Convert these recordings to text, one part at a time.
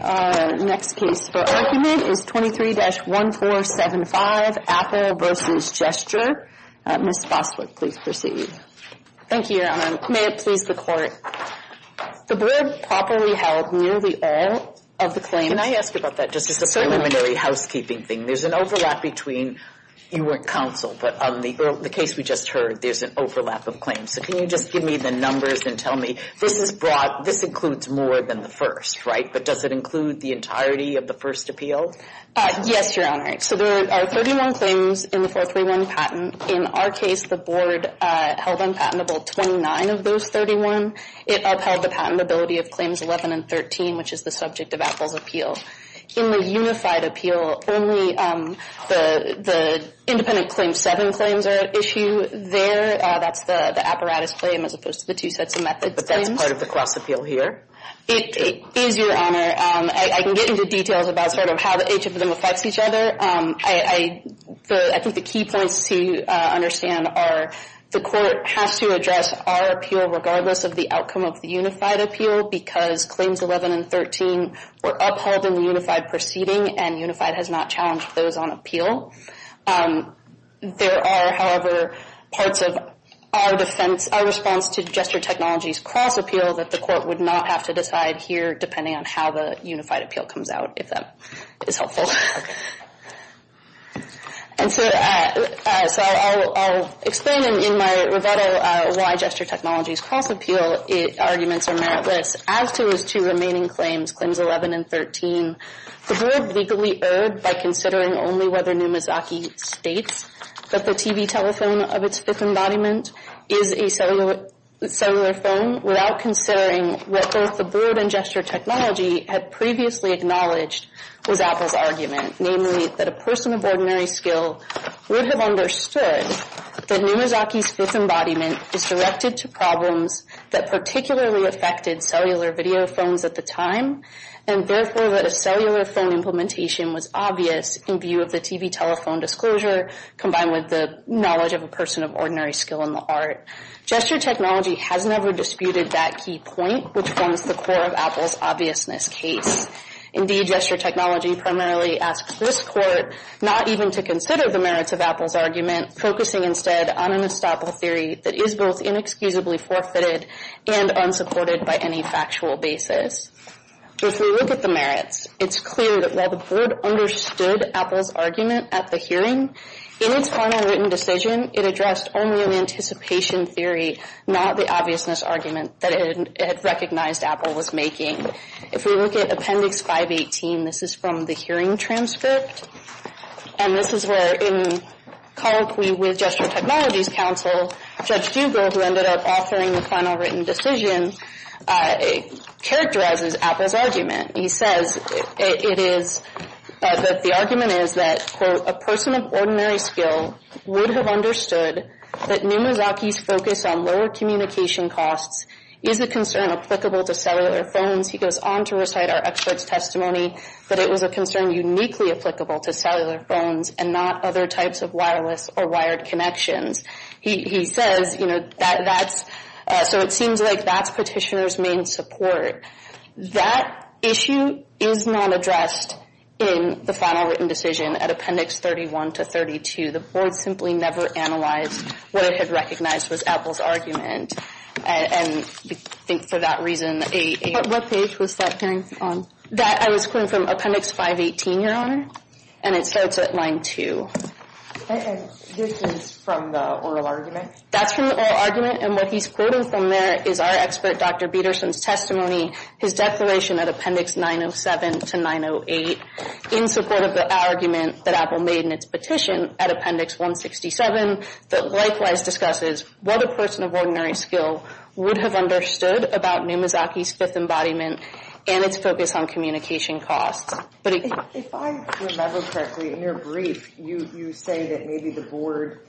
Our next case for argument is 23-1475, Apple v. Gesture. Ms. Boswick, please proceed. Thank you, Your Honor. May it please the Court. The board properly held nearly all of the claims. Can I ask you about that, just as a preliminary housekeeping thing? There's an overlap between, you weren't counsel, but on the case we just heard, there's an overlap of claims. So can you just give me the numbers and tell me, this is broad, this includes more than the first, right? But does it include the entirety of the first appeal? Yes, Your Honor. So there are 31 claims in the 431 patent. In our case, the board held unpatentable 29 of those 31. It upheld the patentability of claims 11 and 13, which is the subject of Apple's appeal. In the unified appeal, only the independent claim 7 claims are at issue there. That's the apparatus claim as opposed to the two sets of methods claims. But that's part of the cross appeal here? It is, Your Honor. I can get into details about sort of how each of them affects each other. I think the key points to understand are, the court has to address our appeal regardless of the outcome of the unified appeal because claims 11 and 13 were upheld in the unified proceeding and unified has not challenged those on appeal. There are, however, parts of our defense, our response to gesture technologies cross appeal that the court would not have to decide here depending on how the unified appeal comes out, if that is helpful. And so I'll explain in my rebuttal why gesture technologies cross appeal arguments are meritless. As to those two remaining claims, claims 11 and 13, the board legally erred by considering only whether Numizaki states that the TV telephone of its fifth embodiment is a cellular phone without considering what both the board and gesture technology had previously acknowledged was Apple's argument, namely that a person of ordinary skill would have understood that Numizaki's fifth embodiment is directed to problems that particularly affected cellular video phones at the time and therefore that a cellular phone implementation was obvious in view of the TV telephone disclosure combined with the knowledge of a person of ordinary skill in the art. Gesture technology has never disputed that key point which forms the core of Apple's obviousness case. Indeed, gesture technology primarily asks this court not even to consider the merits of Apple's argument, focusing instead on an estoppel theory that is both inexcusably forfeited and unsupported by any factual basis. If we look at the merits, it's clear that while the board understood Apple's argument at the hearing, in its final written decision, it addressed only an anticipation theory, not the obviousness argument that it had recognized Apple was making. If we look at Appendix 518, this is from the hearing transcript, and this is where in colloquy with Gesture Technology's counsel, Judge Dugal, who ended up authoring the final written decision, characterizes Apple's argument. He says it is, that the argument is that, quote, a person of ordinary skill would have understood that Numizaki's focus on lower communication costs is a concern applicable to cellular phones. He goes on to recite our expert's testimony that it was a concern uniquely applicable to cellular phones and not other types of wireless or wired connections. He says, you know, that's, so it seems like that's petitioner's main support. That issue is not addressed in the final written decision at Appendix 31 to 32. The board simply never analyzed what it had recognized was Apple's argument, and I think for that reason a- What page was that hearing on? That, I was quoting from Appendix 518, Your Honor, and it starts at line 2. And this is from the oral argument? That's from the oral argument, and what he's quoting from there is our expert Dr. Bederson's testimony, his declaration at Appendix 907 to 908, in support of the argument that Apple made in its petition at Appendix 167 that likewise discusses what a person of ordinary skill would have understood about Numizaki's fifth embodiment and its focus on communication costs. If I remember correctly, in your brief, you say that maybe the board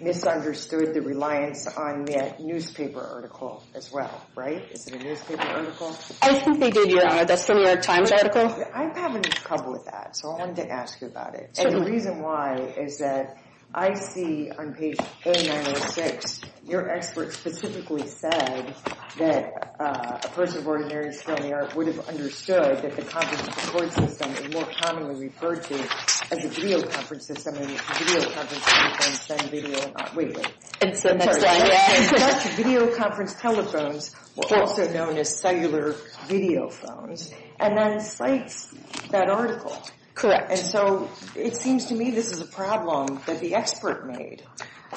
misunderstood the reliance on that newspaper article as well, right? Is it a newspaper article? I think they did, Your Honor. That's from your Times article. I have a problem with that, so I wanted to ask you about it. So the reason why is that I see on page A906, your expert specifically said that a person of ordinary skill in the art would have understood that the conference support system is more commonly referred to as a videoconference system, and videoconference telephones send video. Wait, wait. I'm sorry. Such videoconference telephones were also known as cellular videophones, and that incites that article. Correct. And so it seems to me this is a problem that the expert made.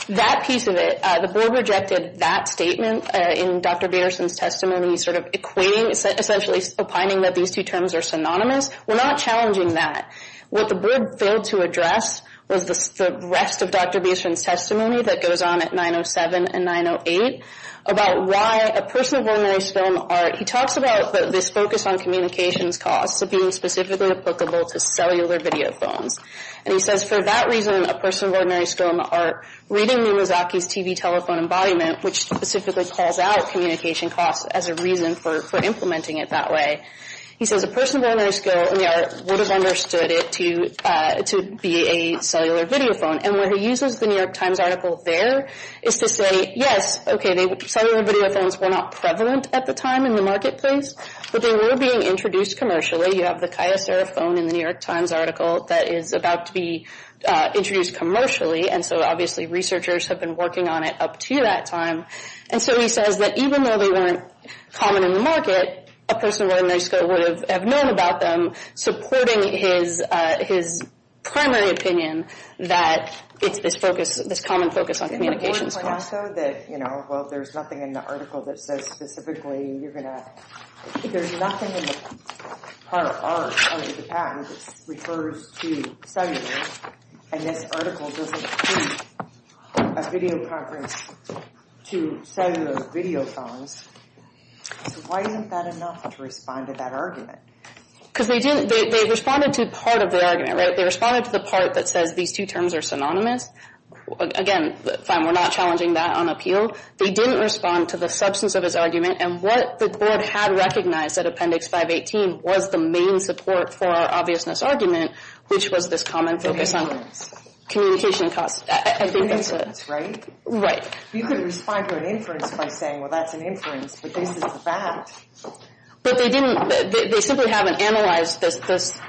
That piece of it, the board rejected that statement in Dr. Bederson's testimony, sort of equating, essentially opining that these two terms are synonymous. We're not challenging that. What the board failed to address was the rest of Dr. Bederson's testimony that goes on at 907 and 908 about why a person of ordinary skill in the art, he talks about this focus on communications costs of being specifically applicable to cellular videophones. And he says for that reason, a person of ordinary skill in the art, reading Numizaki's TV telephone embodiment, which specifically calls out communication costs as a reason for implementing it that way, he says a person of ordinary skill in the art would have understood it to be a cellular videophone. And where he uses the New York Times article there is to say, yes, okay, cellular videophones were not prevalent at the time in the marketplace, but they were being introduced commercially. You have the Kyocera phone in the New York Times article that is about to be introduced commercially, and so obviously researchers have been working on it up to that time. And so he says that even though they weren't common in the market, a person of ordinary skill would have known about them, supporting his primary opinion that it's this focus, this common focus on communications costs. Well, there's nothing in the article that says specifically you're going to, there's nothing in the part of the patent that refers to cellular, and this article doesn't include a videoconference to cellular videophones. So why isn't that enough to respond to that argument? Because they didn't, they responded to part of their argument, right? They responded to the part that says these two terms are synonymous. Again, fine, we're not challenging that on appeal. They didn't respond to the substance of his argument, and what the board had recognized at Appendix 518 was the main support for our obviousness argument, which was this common focus on communication costs. I think that's it. Right. You could respond to an inference by saying, well, that's an inference, but this is the fact. But they didn't, they simply haven't analyzed this.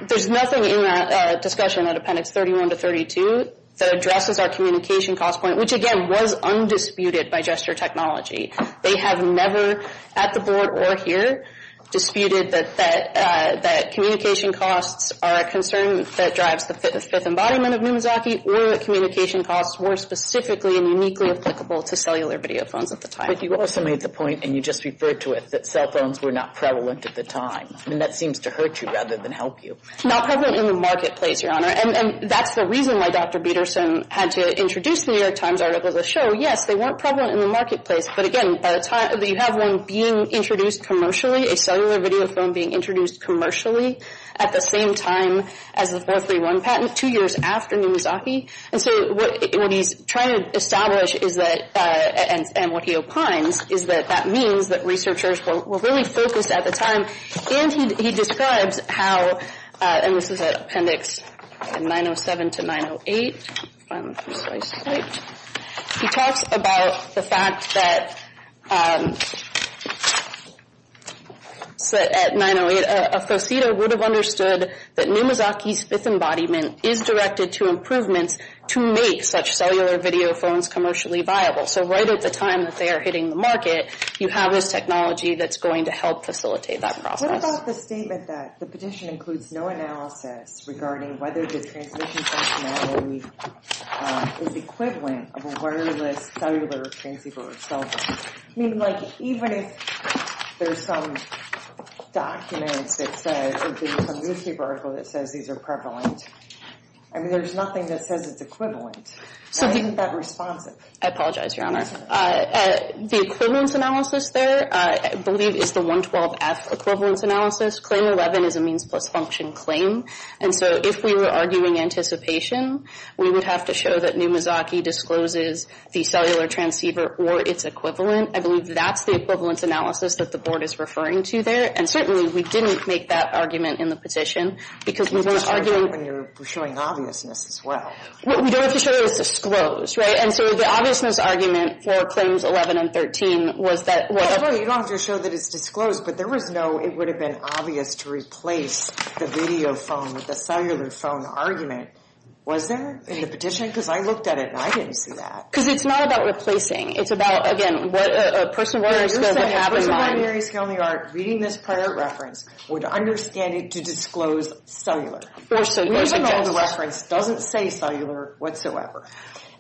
There's nothing in that discussion at Appendix 31 to 32 that addresses our communication cost point, which, again, was undisputed by gesture technology. They have never at the board or here disputed that communication costs are a concern that drives the fifth embodiment of Numizaki or that communication costs were specifically and uniquely applicable to cellular videophones at the time. But you also made the point, and you just referred to it, that cell phones were not prevalent at the time, and that seems to hurt you rather than help you. Not prevalent in the marketplace, Your Honor, and that's the reason why Dr. Peterson had to introduce the New York Times article as a show. Yes, they weren't prevalent in the marketplace, but again, by the time that you have one being introduced commercially, a cellular videophone being introduced commercially at the same time as the 431 patent, two years after Numizaki, and so what he's trying to establish is that, and what he opines, is that that means that researchers were really focused at the time, and he describes how, and this is at Appendix 907 to 908, he talks about the fact that at 908, a FAUCETA would have understood that Numizaki's fifth embodiment is directed to improvements to make such cellular videophones commercially viable. So right at the time that they are hitting the market, you have this technology that's going to help facilitate that process. What about the statement that the petition includes no analysis regarding whether the transmission functionality is equivalent of a wireless cellular transceiver? So, I mean, like, even if there's some documents that say, or some newspaper article that says these are prevalent, I mean, there's nothing that says it's equivalent. So isn't that responsive? I apologize, Your Honor. The equivalence analysis there, I believe, is the 112F equivalence analysis. Claim 11 is a means-plus-function claim, and so if we were arguing anticipation, we would have to show that Numizaki discloses the cellular transceiver or its equivalent. I believe that's the equivalence analysis that the Board is referring to there, and certainly we didn't make that argument in the petition, because we weren't arguing... You were showing obviousness as well. We don't have to show that it's disclosed, right? And so the obviousness argument for Claims 11 and 13 was that... Well, you don't have to show that it's disclosed, but there was no, it would have been obvious to replace the video phone with the cellular phone argument. Was there in the petition? Because I looked at it, and I didn't see that. Because it's not about replacing. It's about, again, what a person with a primary skill in the art... A person with a primary skill in the art reading this prior reference would understand it to disclose cellular. Or cellular just. The original reference doesn't say cellular whatsoever.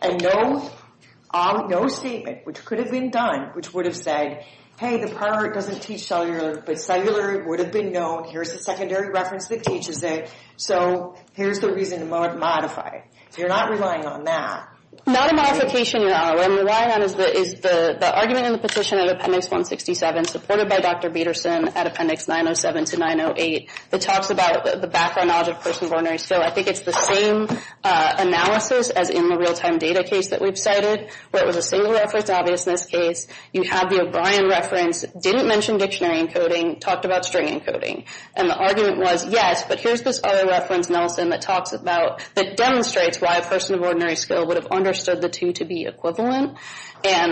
And no statement, which could have been done, which would have said, hey, the prior art doesn't teach cellular, but cellular would have been known. Here's the secondary reference that teaches it. So here's the reason to modify it. So you're not relying on that. Not a modification at all. What I'm relying on is the argument in the petition of Appendix 167, supported by Dr. Bederson at Appendix 907 to 908, that talks about the background knowledge of persons with ordinary skill. I think it's the same analysis as in the real-time data case that we've cited, where it was a single reference, obvious in this case. You have the O'Brien reference. Didn't mention dictionary encoding. Talked about string encoding. And the argument was, yes, but here's this other reference, Nelson, that talks about... that demonstrates why a person of ordinary skill would have understood the two to be equivalent. Or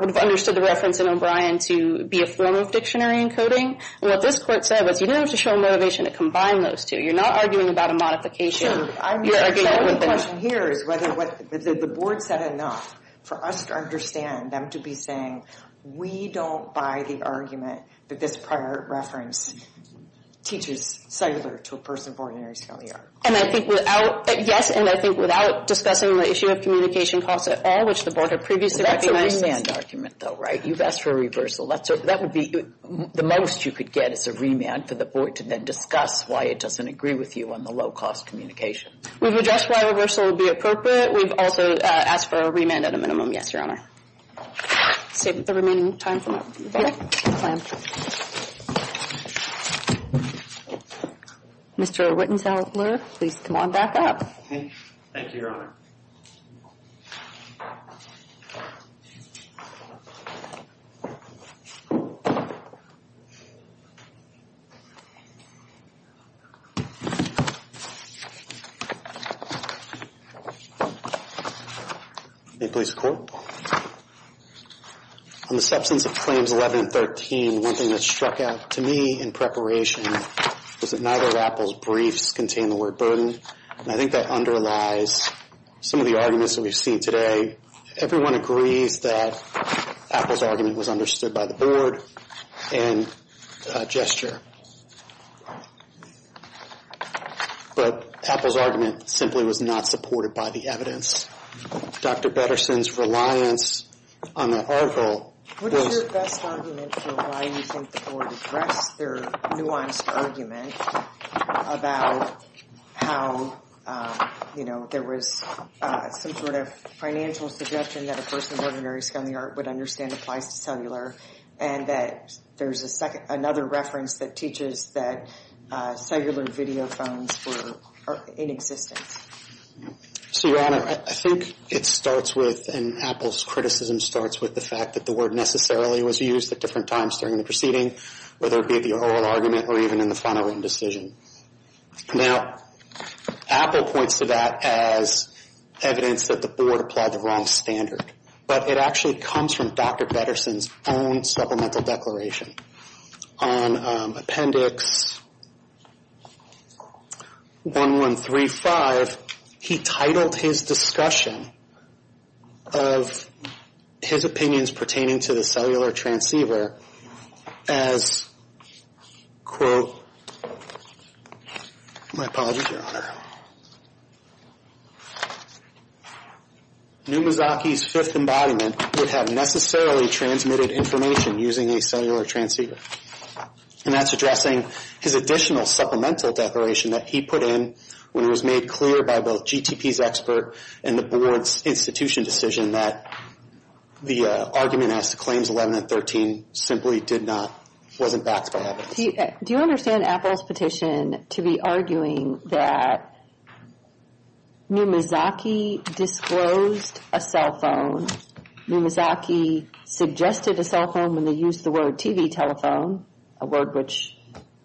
would have understood the reference in O'Brien to be a form of dictionary encoding. And what this court said was, you didn't have to show a motivation to combine those two. You're not arguing about a modification. The question here is whether the board said enough for us to understand them to be saying, we don't buy the argument that this prior reference teaches cellular to a person of ordinary skill here. And I think without... Yes, and I think without discussing the issue of communication costs at all, which the board had previously... That's a rescand argument, though, right? You've asked for a reversal. That would be... The most you could get is a remand for the board to then discuss why it doesn't agree with you on the low-cost communication. We've addressed why a reversal would be appropriate. We've also asked for a remand at a minimum. Yes, Your Honor. I'll save the remaining time for that. Thank you. Mr. Wittensauer, please come on back up. Thank you, Your Honor. May it please the Court. On the substance of Claims 11 and 13, one thing that struck out to me in preparation was that neither of Apple's briefs contained the word burden. And I think that underlies some of the arguments that we've seen today. Everyone agrees that Apple's argument was understood by the board and gesture. But Apple's argument simply was not supported by the evidence. Dr. Betterson's reliance on the article was... What is your best argument for why you think the board addressed their nuanced argument about how, you know, there was some sort of financial suggestion that a person of ordinary skill in the art would understand applies to cellular and that there's another reference that teaches that cellular videophones were in existence. So, Your Honor, I think it starts with, and Apple's criticism starts with the fact that the word necessarily was used at different times during the proceeding, whether it be the oral argument or even in the final written decision. Now, Apple points to that as evidence that the board applied the wrong standard. But it actually comes from Dr. Betterson's own supplemental declaration. On Appendix 1135, he titled his discussion of his opinions pertaining to the cellular transceiver as, quote, my apologies, Your Honor, Numazaki's fifth embodiment would have necessarily transmitted information using a cellular transceiver. And that's addressing his additional supplemental declaration that he put in when it was made clear by both GTP's expert and the board's institution decision that the argument as to Claims 11 and 13 simply did not, wasn't backed by evidence. Do you understand Apple's petition to be arguing that Numazaki disclosed a cell phone? Numazaki suggested a cell phone when they used the word TV telephone, a word which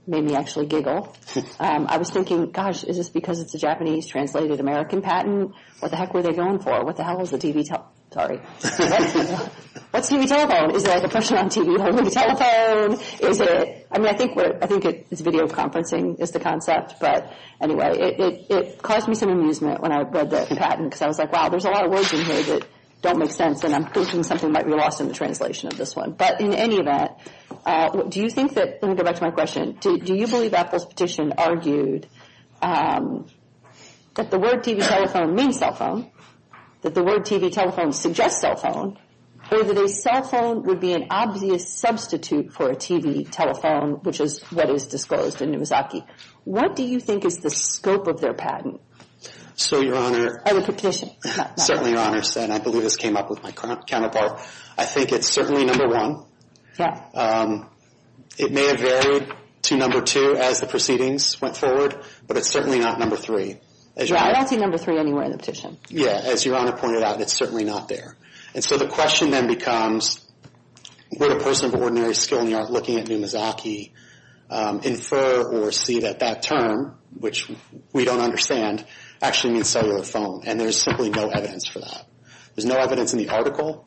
made me actually giggle. I was thinking, gosh, is this because it's a Japanese-translated American patent? What the heck were they going for? What the hell is a TV, sorry. What's TV telephone? Is it like a person on TV holding a telephone? I mean, I think it's video conferencing is the concept. But anyway, it caused me some amusement when I read the patent because I was like, wow, there's a lot of words in here that don't make sense and I'm thinking something might be lost in the translation of this one. But in any event, do you think that, let me go back to my question, do you believe Apple's petition argued that the word TV telephone means cell phone, that the word TV telephone suggests cell phone, or that a cell phone would be an obvious substitute for a TV telephone, which is what is disclosed in Numazaki? What do you think is the scope of their patent? So, Your Honor. And the petition. Certainly, Your Honor, and I believe this came up with my counterpart. I think it's certainly number one. Yeah. It may have varied to number two as the proceedings went forward, but it's certainly not number three. I don't see number three anywhere in the petition. Yeah, as Your Honor pointed out, it's certainly not there. And so the question then becomes, would a person of ordinary skill in the art looking at Numazaki infer or see that that term, which we don't understand, actually means cellular phone, and there's simply no evidence for that? There's no evidence in the article?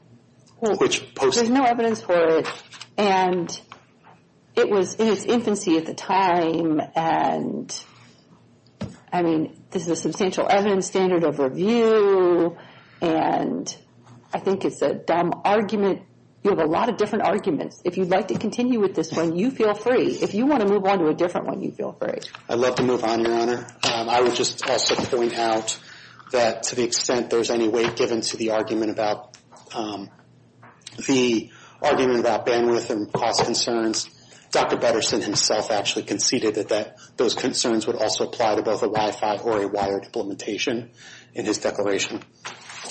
There's no evidence for it, and it was in its infancy at the time, and, I mean, this is a substantial evidence standard of review, and I think it's a dumb argument. You have a lot of different arguments. If you'd like to continue with this one, you feel free. If you want to move on to a different one, you feel free. I'd love to move on, Your Honor. I would just also point out that to the extent there's any weight given to the argument about bandwidth and cost concerns, Dr. Bederson himself actually conceded that those concerns would also apply to both a Wi-Fi or a wired implementation in his declaration.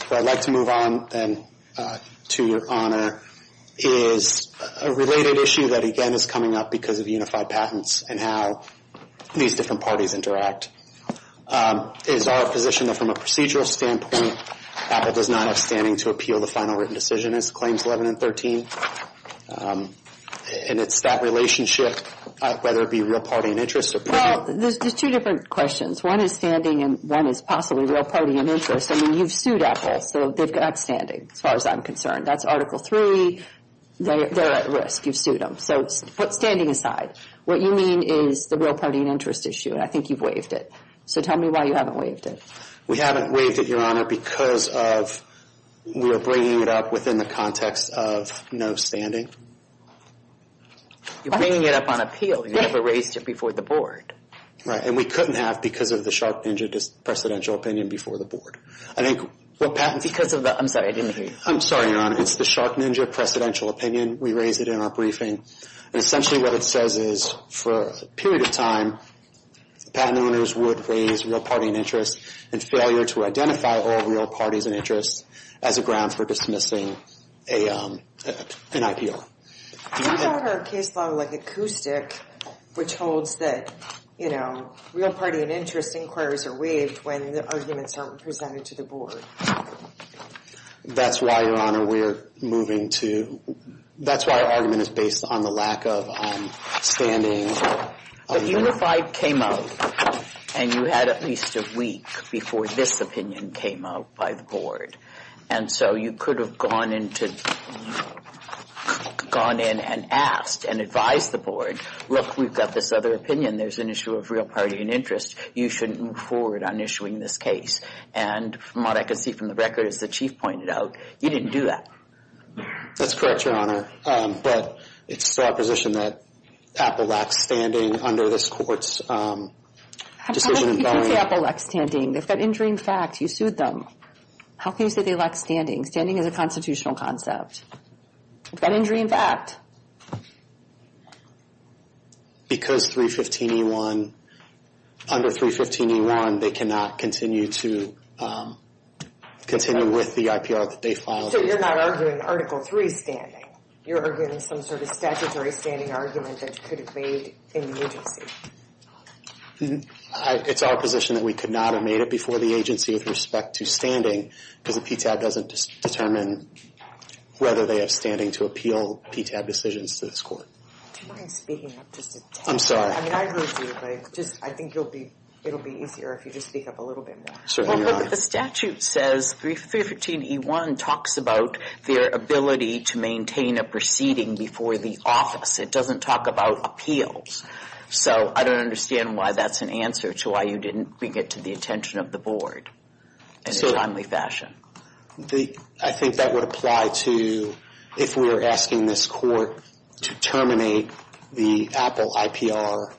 What I'd like to move on then to, Your Honor, is a related issue that, again, is coming up because of unified patents and how these different parties interact. It is our position that from a procedural standpoint, Apple does not have standing to appeal the final written decision as claims 11 and 13, and it's that relationship, whether it be real party and interest or personal. Well, there's two different questions. One is standing and one is possibly real party and interest. I mean, you've sued Apple, so they've got standing as far as I'm concerned. That's Article III. They're at risk. You've sued them. So put standing aside. What you mean is the real party and interest issue, and I think you've waived it. So tell me why you haven't waived it. We haven't waived it, Your Honor, because of we are bringing it up within the context of no standing. You're bringing it up on appeal. You never raised it before the board. Right, and we couldn't have because of the Shark Ninja presidential opinion before the board. I think what patents— Because of the—I'm sorry, I didn't hear you. I'm sorry, Your Honor. It's the Shark Ninja presidential opinion. We raised it in our briefing. And essentially what it says is for a period of time, patent owners would raise real party and interest and failure to identify all real parties and interests as a ground for dismissing an IPO. You've called our case law like a coup stick, which holds that, you know, real party and interest inquiries are waived when the arguments aren't presented to the board. That's why, Your Honor, we're moving to—that's why our argument is based on the lack of standing. But UNIFI came out, and you had at least a week before this opinion came out by the board. And so you could have gone in and asked and advised the board, look, we've got this other opinion. There's an issue of real party and interest. You shouldn't move forward on issuing this case. And from what I can see from the record, as the chief pointed out, you didn't do that. That's correct, Your Honor. But it's still our position that Apple lacks standing under this court's decision in Boeing— How can you say Apple lacks standing? They've got injury in fact. You sued them. How can you say they lack standing? Standing is a constitutional concept. They've got injury in fact. Because 315E1—under 315E1, they cannot continue to—continue with the IPR that they filed. So you're not arguing Article 3 standing. You're arguing some sort of statutory standing argument that you could have made in the agency. It's our position that we could not have made it before the agency with respect to standing because the PTAB doesn't determine whether they have standing to appeal PTAB decisions to this court. Do you mind speaking up just a tad? I'm sorry. I mean, I really do, but I think it'll be easier if you just speak up a little bit more. Certainly, Your Honor. The statute says 315E1 talks about their ability to maintain a proceeding before the office. It doesn't talk about appeals. So I don't understand why that's an answer to why you didn't bring it to the attention of the board in a timely fashion. I think that would apply to if we were asking this court to terminate the Apple IPR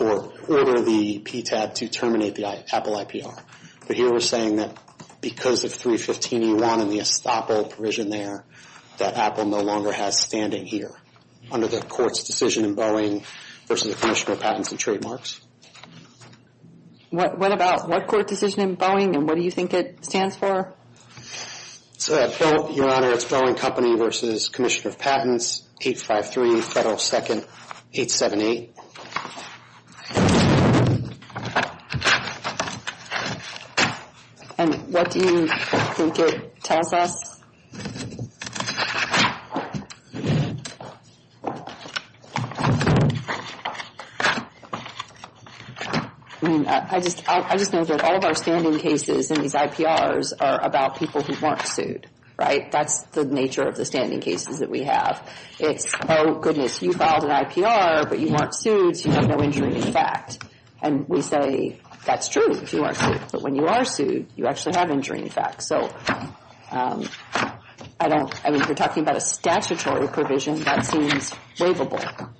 or order the PTAB to terminate the Apple IPR. But here we're saying that because of 315E1 and the estoppel provision there that Apple no longer has standing here under the court's decision in Boeing versus the Commissioner of Patents and Trademarks. What about what court decision in Boeing and what do you think it stands for? Your Honor, it's Boeing Company versus Commissioner of Patents, 853 Federal 2nd 878. And what do you think it tells us? I mean, I just know that all of our standing cases in these IPRs are about people who weren't sued, right? That's the nature of the standing cases that we have. It's, oh, goodness, you filed an IPR, but you weren't sued, so you have no injury in effect. And we say, that's true if you weren't sued. But when you are sued, you actually have injury in effect. So I don't, I mean, you're talking about a statutory provision. That seems waivable.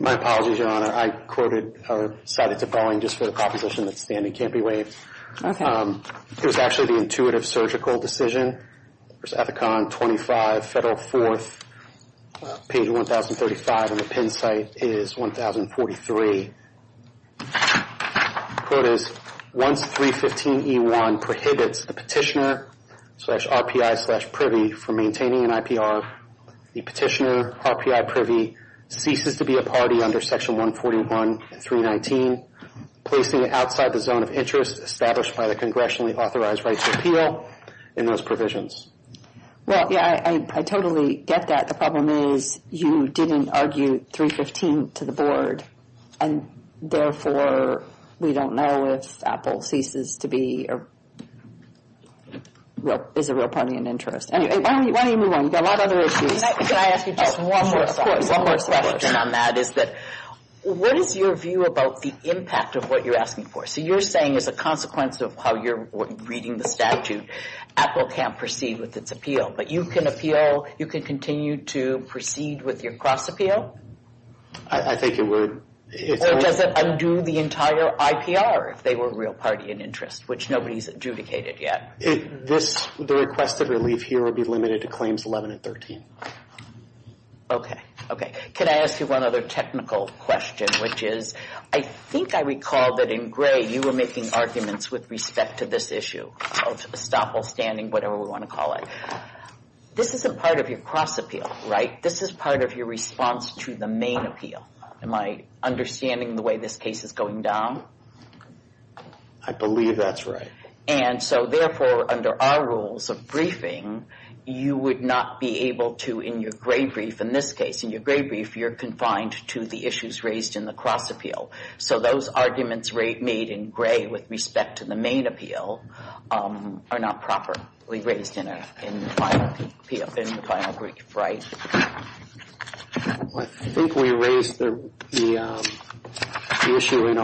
My apologies, Your Honor. I cited to Boeing just for the proposition that standing can't be waived. Okay. It was actually the intuitive surgical decision. There's Ethicon 25 Federal 4th, page 1035, and the pin site is 1043. The quote is, once 315E1 prohibits the petitioner slash RPI slash privy from maintaining an IPR, the petitioner RPI privy ceases to be a party under Section 141, 319, placing it outside the zone of interest established by the congressionally authorized right to appeal in those provisions. Well, yeah, I totally get that. The problem is, you didn't argue 315 to the board, and therefore, we don't know if Apple ceases to be, or is a real party in interest. Anyway, why don't you move on? You've got a lot of other issues. Can I ask you just one more question on that? What is your view about the impact of what you're asking for? So you're saying as a consequence of how you're reading the statute, Apple can't proceed with its appeal. But you can appeal, you can continue to proceed with your cross-appeal? I think it would. Or does it undo the entire IPR if they were a real party in interest, which nobody's adjudicated yet? The request of relief here would be limited to claims 11 and 13. Okay, okay. Can I ask you one other technical question, which is, I think I recall that in gray, you were making arguments with respect to this issue of estoppel standing, whatever we want to call it. This isn't part of your cross-appeal, right? This is part of your response to the main appeal. Am I understanding the way this case is going down? I believe that's right. And so therefore, under our rules of briefing, you would not be able to, in your gray brief, in this case, in your gray brief, you're confined to the issues raised in the cross-appeal. So those arguments made in gray with respect to the main appeal are not properly raised in the final brief, right? I think we raised the issue in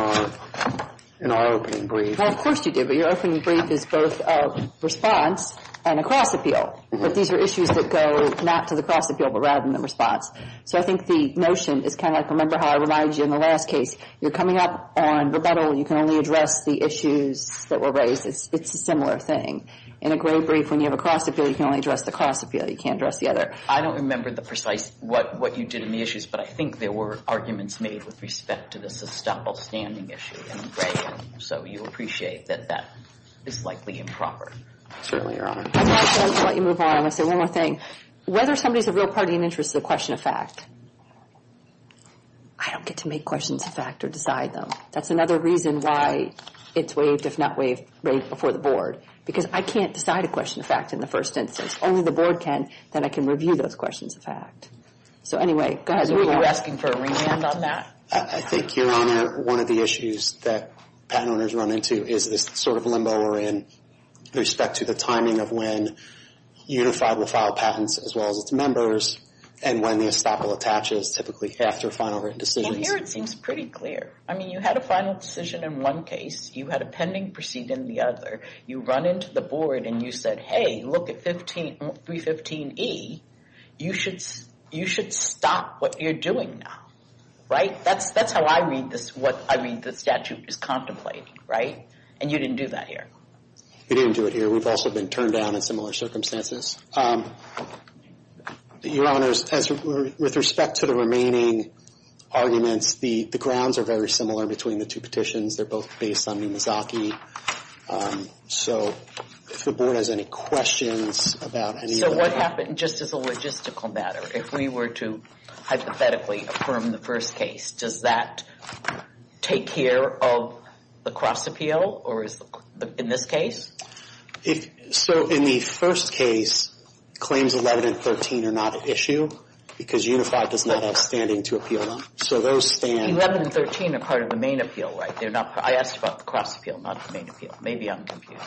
our opening brief. Well, of course you did, but your opening brief is both a response and a cross-appeal. But these are issues that go not to the cross-appeal, but rather than the response. So I think the notion is kind of like, remember how I reminded you in the last case, you're coming up on rebuttal, you can only address the issues that were raised. It's a similar thing. In a gray brief, when you have a cross-appeal, you can only address the cross-appeal. You can't address the other. I don't remember the precise what you did in the issues, but I think there were arguments made with respect to this estoppel standing issue in gray. So you appreciate that that is likely improper. Certainly, Your Honor. I'm going to let you move on. I'm going to say one more thing. Whether somebody is a real party in interest to the question of fact, I don't get to make questions of fact or decide them. That's another reason why it's waived, if not waived, before the Board. Because I can't decide a question of fact in the first instance. Only the Board can, then I can review those questions of fact. So anyway, go ahead. Were you asking for a remand on that? I think, Your Honor, one of the issues that patent owners run into is this sort of limbo we're in with respect to the timing of when Unified will file patents, as well as its members, and when the estoppel attaches, typically after final written decisions. Well, here it seems pretty clear. I mean, you had a final decision in one case. You had a pending proceeding in the other. You run into the Board and you said, hey, look at 315E. You should stop what you're doing now. Right? That's how I read this, what I read the statute is contemplating. Right? And you didn't do that here. We didn't do it here. We've also been turned down in similar circumstances. Your Honors, with respect to the remaining arguments, the grounds are very similar between the two petitions. They're both based on Numizaki. So if the Board has any questions about any of that. So what happened, just as a logistical matter, if we were to hypothetically affirm the first case, does that take care of the cross appeal in this case? So in the first case, claims 11 and 13 are not an issue because Unified does not have standing to appeal them. So those stand. 11 and 13 are part of the main appeal, right? I asked about the cross appeal, not the main appeal. Maybe I'm confused.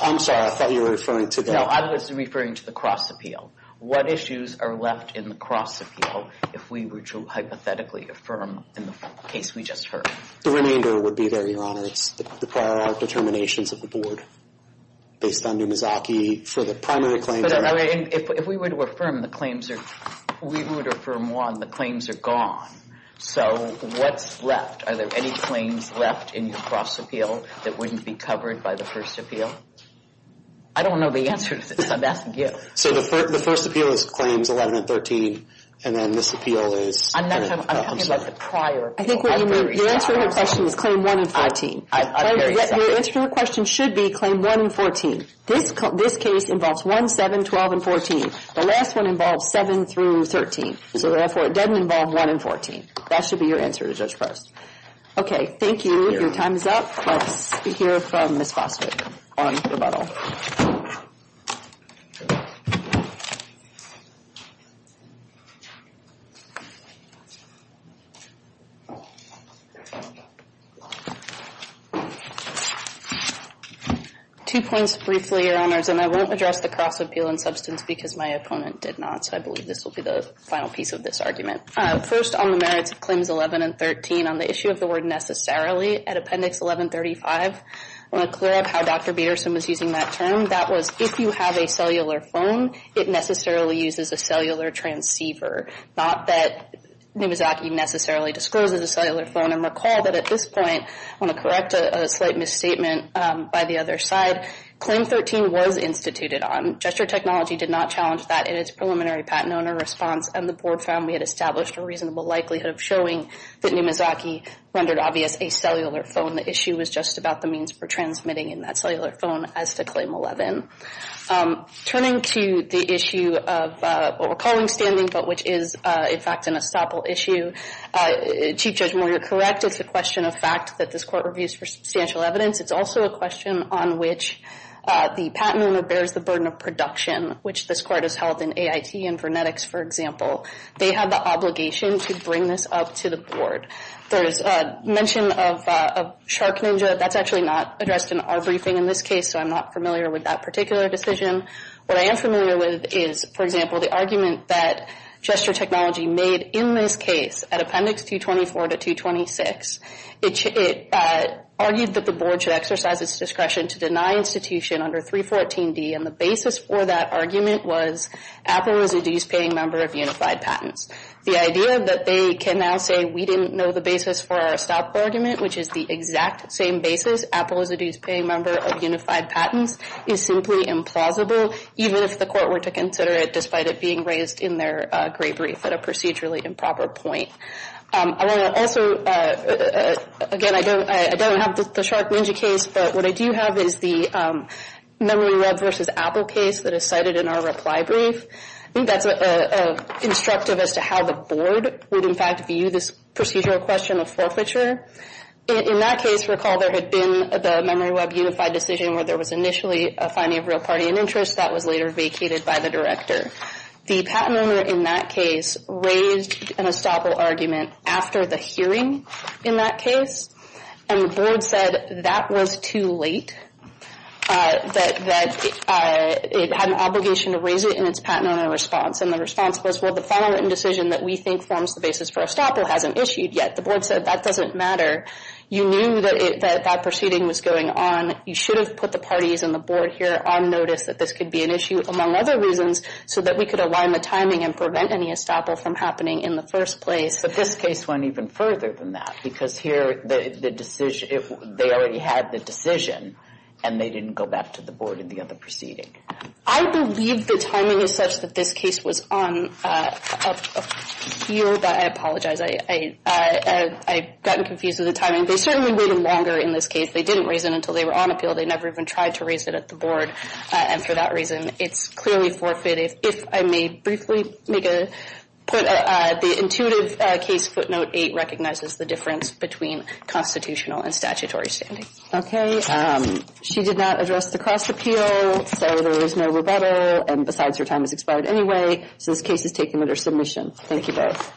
I'm sorry. I thought you were referring to that. No, I was referring to the cross appeal. What issues are left in the cross appeal if we were to hypothetically affirm in the case we just heard? The remainder would be there, Your Honor. It's the prior art determinations of the Board based on Numizaki for the primary claims. If we were to affirm the claims, we would affirm one, the claims are gone. So what's left? Are there any claims left in your cross appeal that wouldn't be covered by the first appeal? I don't know the answer to this. I'm asking you. So the first appeal is claims 11 and 13. And then this appeal is? I'm not talking about the prior. Your answer to her question is claims 1 and 14. Your answer to her question should be claims 1 and 14. This case involves 1, 7, 12, and 14. The last one involves 7 through 13. So therefore, it doesn't involve 1 and 14. That should be your answer to Judge Parsons. Okay, thank you. Your time is up. Let's hear from Ms. Foster on rebuttal. Two points briefly, Your Honors, and I won't address the cross appeal in substance because my opponent did not. So I believe this will be the final piece of this argument. First, on the merits of claims 11 and 13, on the issue of the word necessarily at Appendix 1135, I want to clear up how Dr. Bederson was using that term. That was, if you have a cellular phone, it necessarily uses a cellular transceiver. Not that Numizaki necessarily discloses a cellular phone. And recall that at this point, I want to correct a slight misstatement by the other side. Claim 13 was instituted on. Gesture Technology did not challenge that in its preliminary patent owner response, and the Board found we had established a reasonable likelihood of showing that Numizaki rendered obvious a cellular phone. The issue was just about the means for transmitting in that cellular phone as to Claim 11. Turning to the issue of what we're calling standing but which is, in fact, an estoppel issue, Chief Judge Moore, you're correct. It's a question of fact that this Court reviews for substantial evidence. It's also a question on which the patent owner bears the burden of production, which this Court has held in AIT and Vernetics, for example. They have the obligation to bring this up to the Board. There is mention of Shark Ninja. That's actually not addressed in our briefing in this case, so I'm not familiar with that particular decision. What I am familiar with is, for example, the argument that Gesture Technology made in this case, at Appendix 224 to 226, it argued that the Board should exercise its discretion to deny institution under 314D, and the basis for that argument was Apple is a dues-paying member of Unified Patents. The idea that they can now say we didn't know the basis for our estoppel argument, which is the exact same basis, Apple is a dues-paying member of Unified Patents, is simply implausible, even if the Court were to consider it despite it being raised in their gray brief at a procedurally improper point. I want to also, again, I don't have the Shark Ninja case, but what I do have is the MemoryWeb v. Apple case that is cited in our reply brief. That's instructive as to how the Board would, in fact, view this procedural question of forfeiture. In that case, recall there had been the MemoryWeb Unified decision where there was initially a finding of real party and interest that was later vacated by the Director. The patent owner in that case raised an estoppel argument after the hearing in that case, and the Board said that was too late, that it had an obligation to raise it in its patent owner response, and the response was, well, the final written decision that we think forms the basis for estoppel hasn't issued yet. The Board said that doesn't matter. You knew that that proceeding was going on. You should have put the parties and the Board here on notice that this could be an issue, among other reasons, so that we could align the timing and prevent any estoppel from happening in the first place. But this case went even further than that because here they already had the decision, and they didn't go back to the Board in the other proceeding. I believe the timing is such that this case was on a field that I apologize. I've gotten confused with the timing. They certainly waited longer in this case. If they didn't raise it until they were on appeal, they never even tried to raise it at the Board, and for that reason it's clearly forfeited. If I may briefly make a point, the intuitive case footnote 8 recognizes the difference between constitutional and statutory standing. Okay. She did not address the cross-appeal, so there is no rebuttal, and besides, her time has expired anyway, so this case is taken under submission. Thank you both.